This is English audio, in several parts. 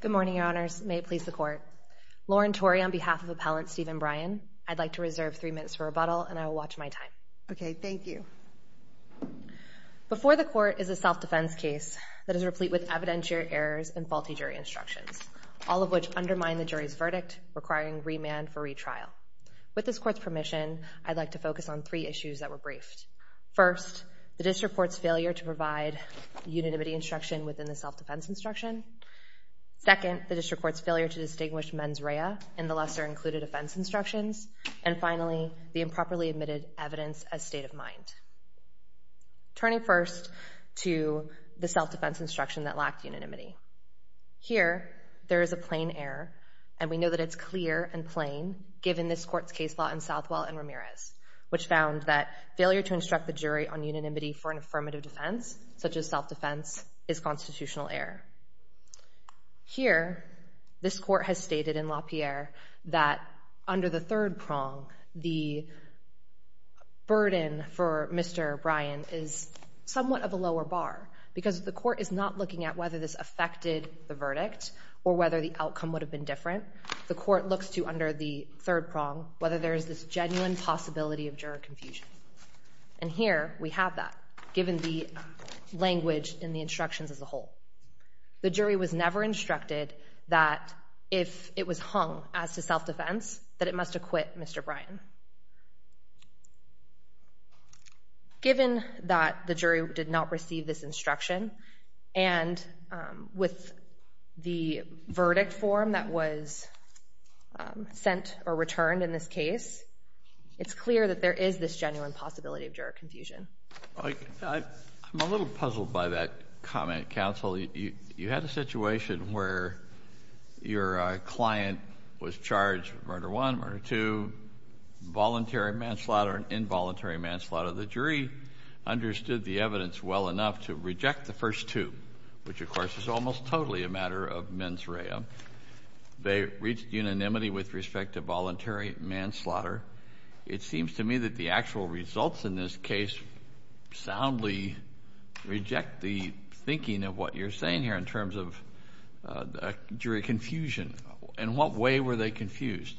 Good morning, your honors. May it please the court. Lauren Tory on behalf of appellant Steven Bryan, I'd like to reserve three minutes for rebuttal and I will watch my time. Okay, thank you. Before the court is a self-defense case that is replete with evidentiary errors and faulty jury instructions, all of which undermine the jury's verdict, requiring remand for retrial. With this court's permission, I'd like to focus on three issues that were briefed. First, the instruction within the self-defense instruction. Second, the district court's failure to distinguish mens rea in the lesser included offense instructions. And finally, the improperly admitted evidence as state of mind. Turning first to the self-defense instruction that lacked unanimity. Here, there is a plain error and we know that it's clear and plain given this court's case law in Southwell and Ramirez, which found that failure to instruct the jury on is constitutional error. Here, this court has stated in LaPierre that under the third prong, the burden for Mr. Bryan is somewhat of a lower bar because the court is not looking at whether this affected the verdict or whether the outcome would have been different. The court looks to, under the third prong, whether there is this genuine possibility of juror confusion. And here, we have that given the language in the instructions as a whole. The jury was never instructed that if it was hung as to self-defense, that it must acquit Mr. Bryan. Given that the jury did not receive this instruction and with the verdict form that was sent or returned in this case, it's clear that there is this genuine possibility of juror confusion. I'm a little puzzled by that comment, counsel. You had a situation where your client was charged with murder one, murder two, voluntary manslaughter and involuntary manslaughter. The jury understood the evidence well enough to reject the first two, which of course is almost totally a matter of mens rea. They reached unanimity with respect to voluntary manslaughter. It seems to me that the actual results in this case soundly reject the thinking of what you're saying here in terms of jury confusion. In what way were they confused?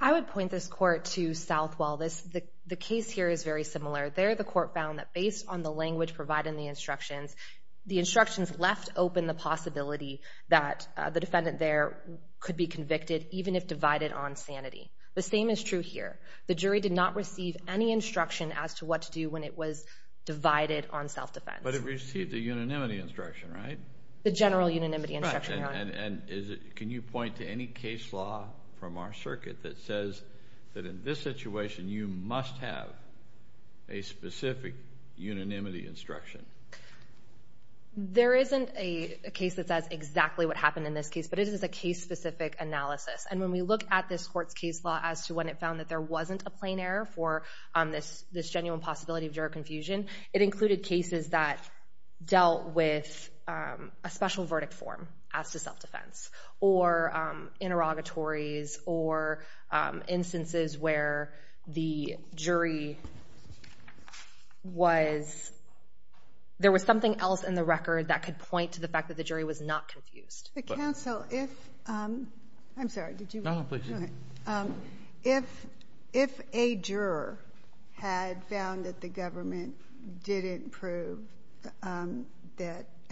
I would point this court to Southwell. The case here is very similar. There, the court found that based on the language provided in the instructions, the instructions left open the possibility that the defendant there could be convicted, even if divided on sanity. The same is true here. The jury did not receive any instruction as to what to do when it was divided on self-defense. But it received a unanimity instruction, right? The general unanimity instruction, Your Honor. And can you point to any case law from our circuit that says that in this situation you must have a specific unanimity instruction? There isn't a case that says exactly what happened in this case, but it is a case-specific analysis. And when we look at this court's case law as to when it found that there wasn't a plain error for this genuine possibility of jury confusion, it included cases that dealt with a special verdict form as to self-defense, or interrogatories, or interrogations. So the jury was — there was something else in the record that could point to the fact that the jury was not confused. The counsel, if — I'm sorry, did you want to — No, no, please. Go ahead. If a juror had found that the government didn't prove that —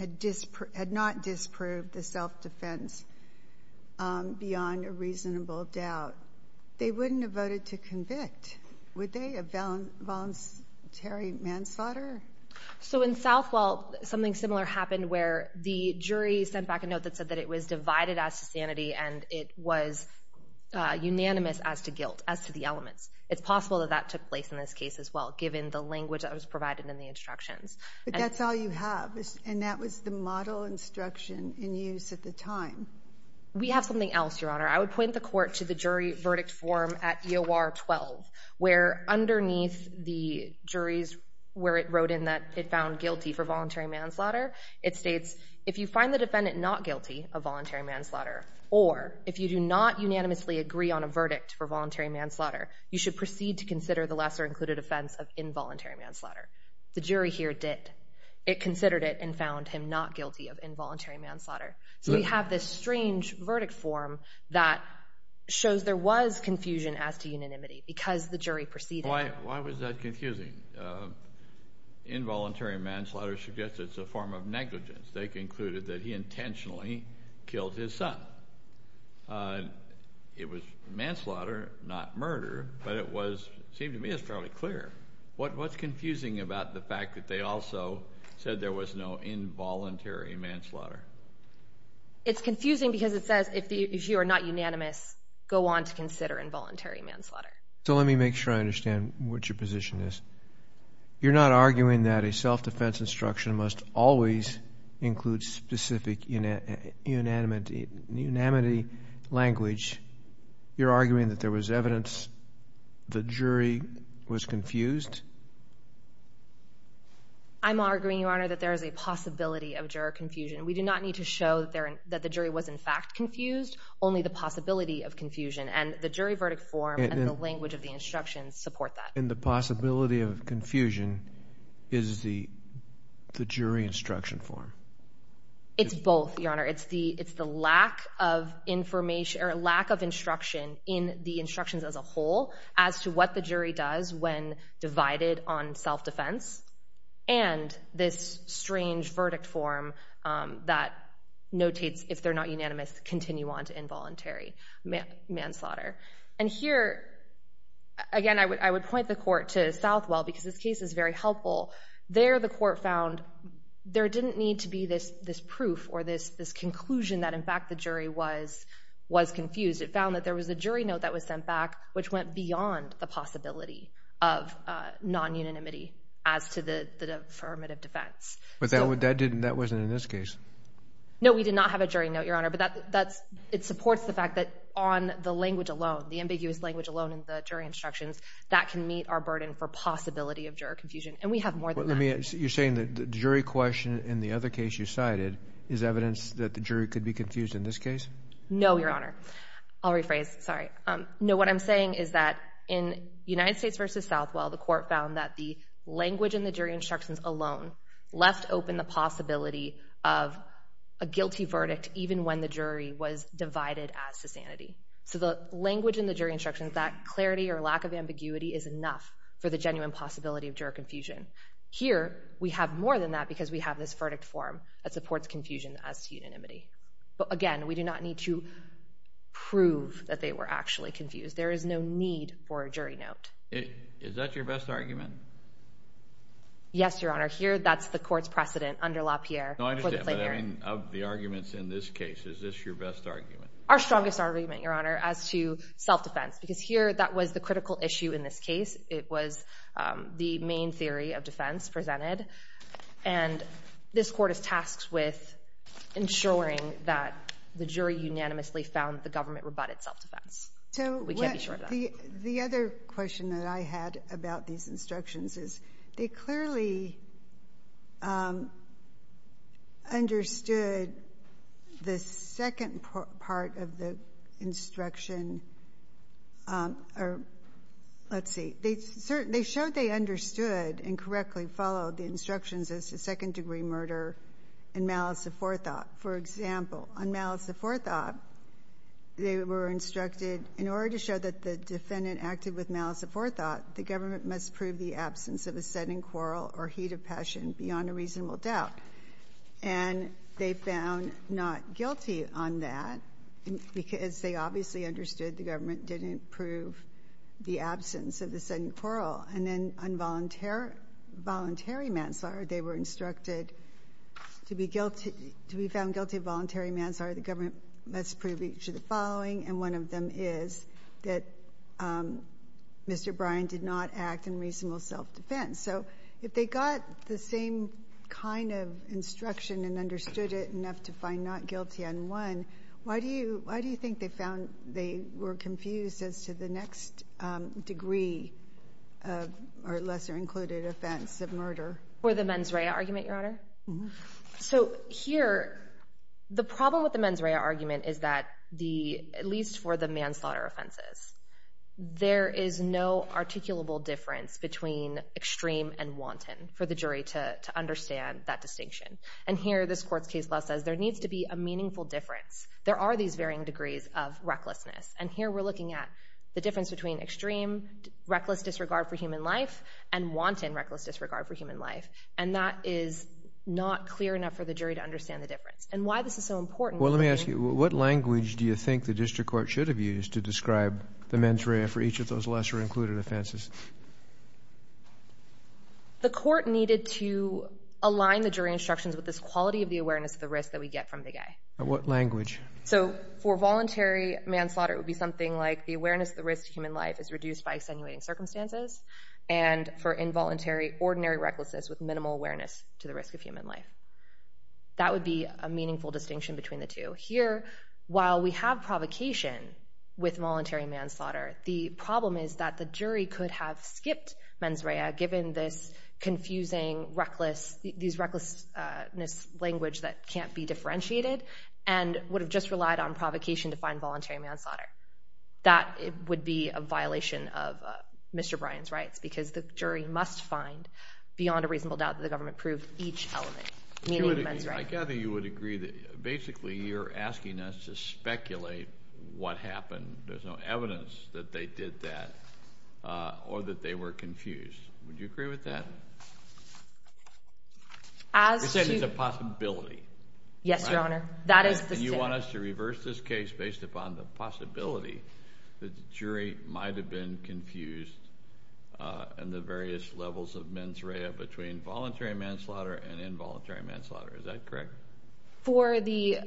had not disproved the self-defense beyond a reasonable doubt, they wouldn't have voted to convict, would they? A voluntary manslaughter? So in Southwell, something similar happened where the jury sent back a note that said that it was divided as to sanity and it was unanimous as to guilt, as to the elements. It's possible that that took place in this case as well, given the language that was provided in the instructions. But that's all you have, and that was the model instruction in use at the time. We have something else, Your Honor. I would point the court to the jury verdict form at EOR 12, where underneath the jury's — where it wrote in that it found guilty for voluntary manslaughter, it states, if you find the defendant not guilty of voluntary manslaughter, or if you do not unanimously agree on a verdict for voluntary manslaughter, you should proceed to consider the lesser-included offense of involuntary manslaughter. The jury here did. It considered it and found him not guilty of involuntary manslaughter. So we have this strange verdict form that shows there was confusion as to unanimity, because the jury proceeded. Why was that confusing? Involuntary manslaughter suggests it's a form of negligence. They concluded that he intentionally killed his son. It was manslaughter, not murder, but it was — it seemed to me it's fairly clear. What's confusing about the fact that they also said there was no involuntary manslaughter? It's confusing because it says if you are not unanimous, go on to consider involuntary manslaughter. So let me make sure I understand what your position is. You're not arguing that a self-defense instruction must always include specific unanimity language. You're arguing that there was evidence the jury was confused? I'm arguing, Your Honor, that there is a We do not need to show that the jury was in fact confused, only the possibility of confusion. And the jury verdict form and the language of the instructions support that. And the possibility of confusion is the jury instruction form? It's both, Your Honor. It's the lack of information or lack of instruction in the instructions as a whole as to what the jury does when divided on self-defense. And this strange verdict form that notates if they're not unanimous, continue on to involuntary manslaughter. And here, again, I would point the court to Southwell because this case is very helpful. There the court found there didn't need to be this this proof or this this conclusion that in fact the jury was was confused. It found that there was a jury note that was sent back which went beyond the possibility of non-unanimity as to the affirmative defense. But that wasn't in this case? No, we did not have a jury note, Your Honor. But that's it supports the fact that on the language alone, the ambiguous language alone in the jury instructions, that can meet our burden for possibility of juror confusion. And we have more than that. You're saying that the jury question in the other case you cited is evidence that the jury could be confused in this case? No, Your Honor. I'll rephrase. Sorry. No, what I'm saying is that in United States v. Southwell, the court found that the language in the jury instructions alone left open the possibility of a guilty verdict even when the jury was divided as to sanity. So the language in the jury instructions, that clarity or lack of ambiguity is enough for the genuine possibility of juror confusion. Here, we have more than that because we have this verdict form that supports confusion as to unanimity. But again, we do not need to were actually confused. There is no need for a jury note. Is that your best argument? Yes, Your Honor. Here, that's the court's precedent under LaPierre. Of the arguments in this case, is this your best argument? Our strongest argument, Your Honor, as to self defense, because here that was the critical issue. In this case, it was the main theory of defense presented, and this court is tasked with ensuring that the jury unanimously found the government rebutted self defense. We can't be sure of that. So the other question that I had about these instructions is, they clearly understood the second part of the instruction, or let's see, they showed they understood and correctly followed the instructions as to second degree murder and malice of forethought. For example, on malice of forethought, they were instructed, in order to show that the defendant acted with malice of forethought, the government must prove the absence of a sudden quarrel or heat of passion beyond a reasonable doubt. And they found not guilty on that because they obviously understood the government didn't prove the absence of the sudden quarrel. And then on voluntary manslaughter, they were the government must prove each of the following, and one of them is that Mr. Bryant did not act in reasonable self defense. So if they got the same kind of instruction and understood it enough to find not guilty on one, why do you think they found they were confused as to the next degree of or lesser included offense of murder? For the mens rea argument, Your Honor? So here, the problem with the mens rea argument is that the, at least for the manslaughter offenses, there is no articulable difference between extreme and wanton for the jury to understand that distinction. And here, this court's case law says there needs to be a meaningful difference. There are these varying degrees of recklessness. And here we're looking at the difference between extreme reckless disregard for human life and wanton reckless disregard for human life. And that is not clear enough for the jury to understand the difference. And why this is so important. Well, let me ask you, what language do you think the district court should have used to describe the mens rea for each of those lesser included offenses? The court needed to align the jury instructions with this quality of the awareness of the risk that we get from the guy. What language? So for voluntary manslaughter, it would be something like the awareness of the risk to human life is reduced by and for involuntary ordinary recklessness with minimal awareness to the risk of human life. That would be a meaningful distinction between the two. Here, while we have provocation with voluntary manslaughter, the problem is that the jury could have skipped mens rea given this confusing, reckless, these recklessness language that can't be differentiated and would have just relied on provocation to find voluntary manslaughter. That would be a violation of Mr. Brian's rights, because the jury must find beyond a reasonable doubt that the government proved each element, meaning mens rea. I gather you would agree that basically you're asking us to speculate what happened. There's no evidence that they did that or that they were confused. Would you agree with that? As you said, it's a possibility. Yes, Your Honor. That is. And you want us to be able to find the reason confused and the various levels of mens rea between voluntary manslaughter and involuntary manslaughter. Is that correct? For the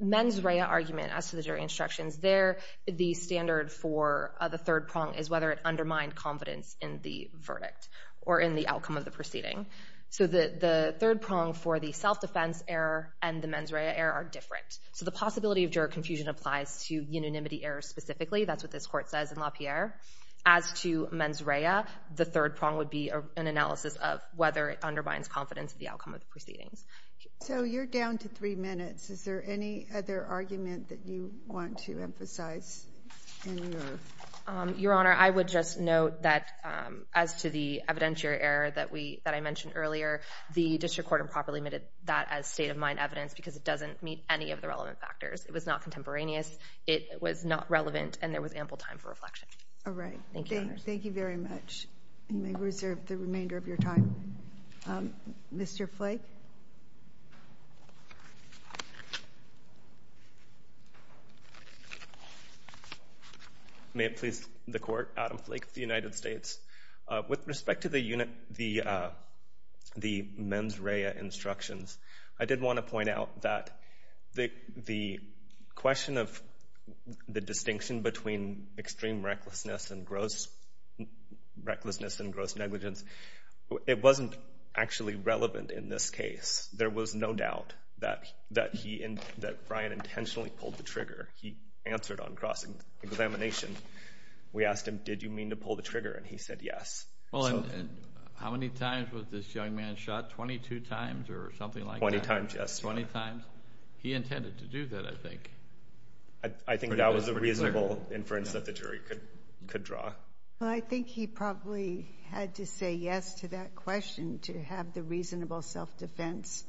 mens rea argument as to the jury instructions, the standard for the third prong is whether it undermined confidence in the verdict or in the outcome of the proceeding. So the third prong for the self-defense error and the mens rea error are different. So the possibility of juror confusion applies to unanimity error specifically. That's what this court says in LaPierre. As to mens rea, the third prong would be an analysis of whether it undermines confidence in the outcome of the proceedings. So you're down to three minutes. Is there any other argument that you want to emphasize in your? Your Honor, I would just note that as to the evidentiary error that I mentioned earlier, the district court improperly omitted that as state of mind evidence because it doesn't meet any of the relevant factors. It was not contemporaneous. It was not relevant. And there was ample time for reflection. All right. Thank you. Thank you very much. You may reserve the remainder of your time. Mr. Flake. May it please the Court, Adam Flake of the United States. With respect to the unit, the, the mens rea instructions, I did want to point out that the, the question of the distinction between extreme recklessness and gross recklessness and gross negligence, it wasn't actually relevant in this case. There was no doubt that, that he and that Brian intentionally pulled the trigger. He answered on cross examination. We asked him, did you mean to pull the trigger? And he said yes. Well, and how many times was this young man shot? 22 times or something like that? 20 times, yes. 20 times. He I, I think that was a reasonable inference that the jury could, could draw. Well, I think he probably had to say yes to that question to have the reasonable self-defense,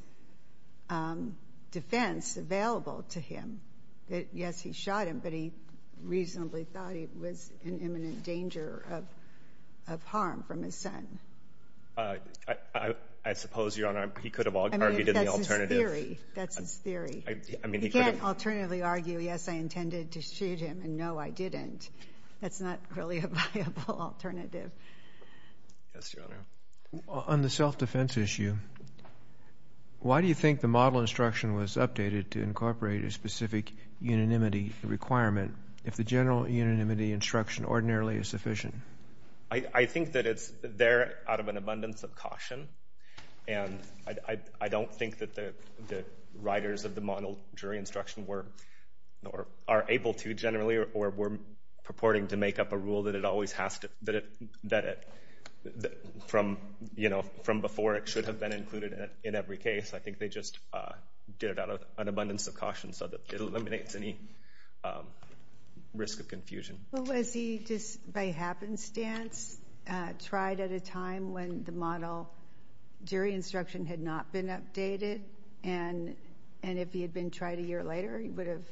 defense available to him. That, yes, he shot him, but he reasonably thought he was in imminent danger of, of harm from his son. I, I, I suppose, Your Honor, he could have argued in the alternative. I mean, that's his theory. That's his theory. I, I mean, he could have. He can't alternatively argue, yes, I intended to shoot him, and no, I didn't. That's not really a viable alternative. Yes, Your Honor. On the self-defense issue, why do you think the model instruction was updated to incorporate a specific unanimity requirement if the general unanimity instruction ordinarily is sufficient? I, I think that it's there out of an abundance of caution. And I, I, I don't think that the, the writers of the model jury instruction were, or are able to generally, or were purporting to make up a rule that it always has to, that it, that it, that from, you know, from before it should have been included in, in every case. I think they just did it out of an abundance of caution so that it eliminates any risk of confusion. Well, was he just by happenstance tried at a model, jury instruction had not been updated, and, and if he had been tried a year later, he would have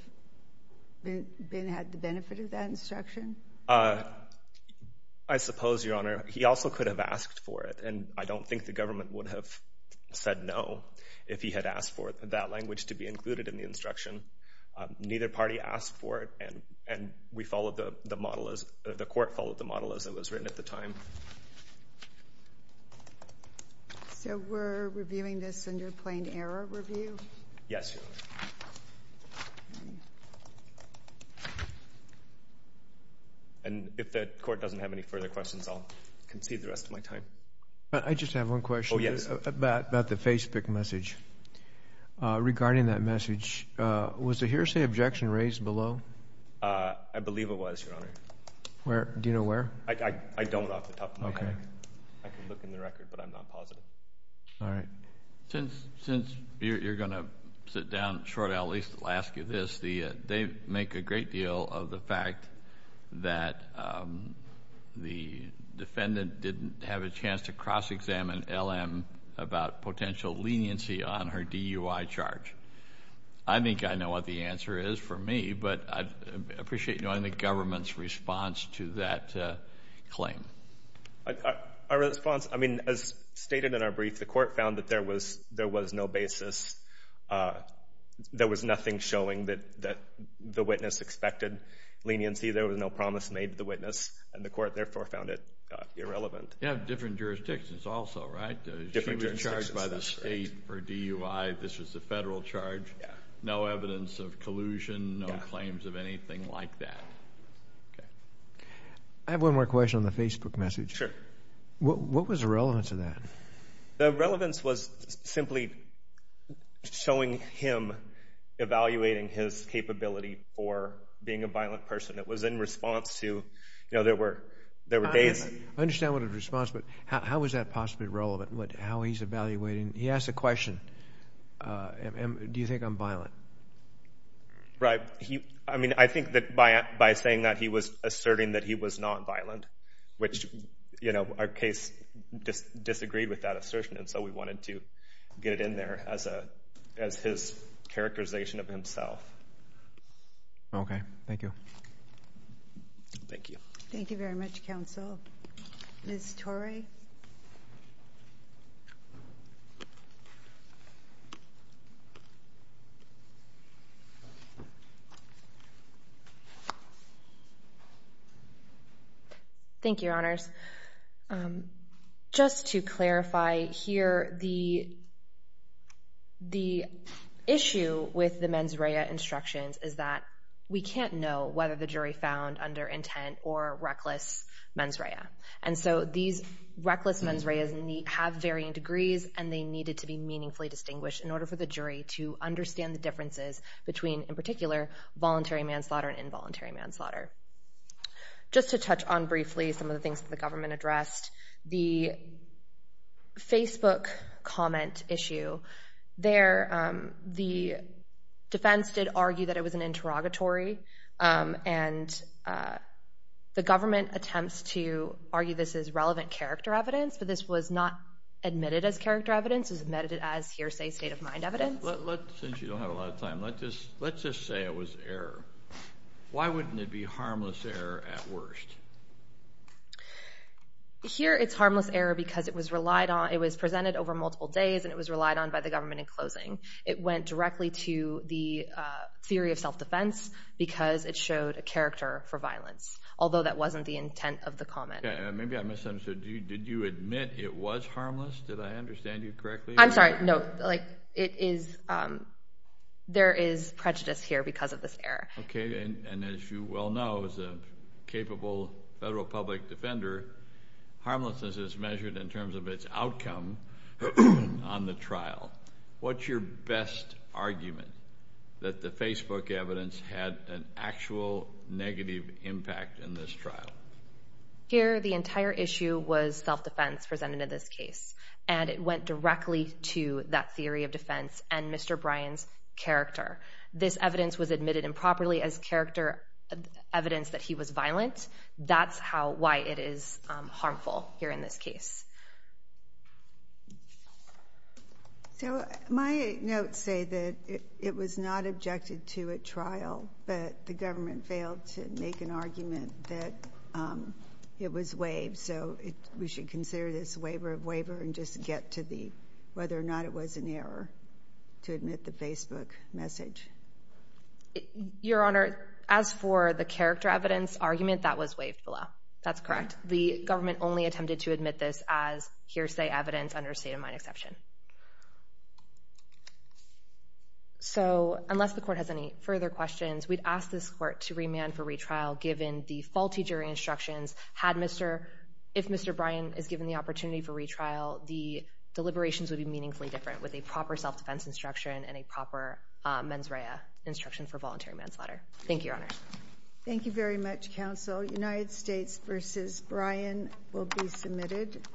been, had the benefit of that instruction? I suppose, Your Honor, he also could have asked for it, and I don't think the government would have said no if he had asked for that language to be included in the instruction. Neither party asked for it, and, and we followed the, the model as, the court followed the model as it was written at the time. So we're reviewing this under plain error review? Yes, Your Honor. And if the court doesn't have any further questions, I'll concede the rest of my time. I just have one question. Oh, yes. About, about the Facebook message. Regarding that message, was the defendant, since you're, you're going to sit down shortly, I'll at least ask you this. They make a great deal of the fact that the defendant didn't have a chance to cross-examine LM about potential leniency on her DUI charge. I think I know what the answer is for me, but I'd appreciate knowing the government's response to that claim. Our response, I mean, as stated in our brief, the court found that there was, there was no basis. There was nothing showing that, that the witness expected leniency. There was no promise made to the witness, and the court therefore found it irrelevant. You have different jurisdictions also, right? Different jurisdictions. She was charged by the state for DUI. This was a federal charge. No evidence of collusion, no claims of anything like that. Okay. I have one more question on the Facebook message. Sure. What, what was the relevance of that? The relevance was simply showing him evaluating his capability for being a violent person. It was in response to, you know, there were, there were days. I understand what a response, but how was that possibly relevant? What, how he's been violent? Right. He, I mean, I think that by, by saying that he was asserting that he was not violent, which, you know, our case just disagreed with that assertion, and so we wanted to get it in there as a, as his characterization of himself. Okay. Thank you. Thank you. Thank you very much, counsel. Ms. Torey? Thank you, Your Honors. Just to clarify here, the, the issue with the mens rea instructions is that we can't know whether the jury found under intent or reckless mens rea. And so these reckless mens reas have varying degrees and they needed to be meaningfully distinguished in order for the jury to understand the differences between, in particular, voluntary manslaughter and involuntary manslaughter. Just to touch on briefly some of the things that the government addressed, the Facebook comment issue. There, the defense did argue that it was an interrogatory, and the government attempts to argue this is relevant character evidence, but this was not admitted as character evidence. It was admitted as hearsay state-of-mind evidence. Let's, since you don't have a lot of time, let's just, let's just say it was error. Why wouldn't it be harmless error at worst? Here, it's harmless error because it was relied on, it was presented over multiple days, and it was relied on by the government in closing. It went directly to the theory of self-defense because it showed a character for violence, although that wasn't the intent of the comment. Maybe I misunderstood. Did you admit it was harmless? Did I understand you correctly? I'm sorry, no, like it is, there is prejudice here because of this error. Okay, and as you well know, as a capable federal public defender, harmlessness is measured in terms of its outcome on the trial. What's your best argument that the Facebook evidence had an actual negative impact in this trial? Here, the entire issue was self-defense presented in this case, and it went directly to that theory of defense and Mr. Bryan's character. This evidence was admitted improperly as character evidence that he was violent. That's how, why it is harmful here in this case. So my notes say that it was not objected to at trial, but the we should consider this waiver of waiver and just get to the whether or not it was an error to admit the Facebook message. Your Honor, as for the character evidence argument, that was waived below. That's correct. The government only attempted to admit this as hearsay evidence under state-of-mind exception. So unless the court has any further questions, we'd ask this court to remand for retrial given the faulty jury instructions. Had Mr., if Mr. Bryan is given the opportunity for retrial, the deliberations would be meaningfully different with a proper self-defense instruction and a proper mens rea instruction for voluntary manslaughter. Thank you, Your Honors. Thank you very much, counsel. United States v. Bryan will be submitted.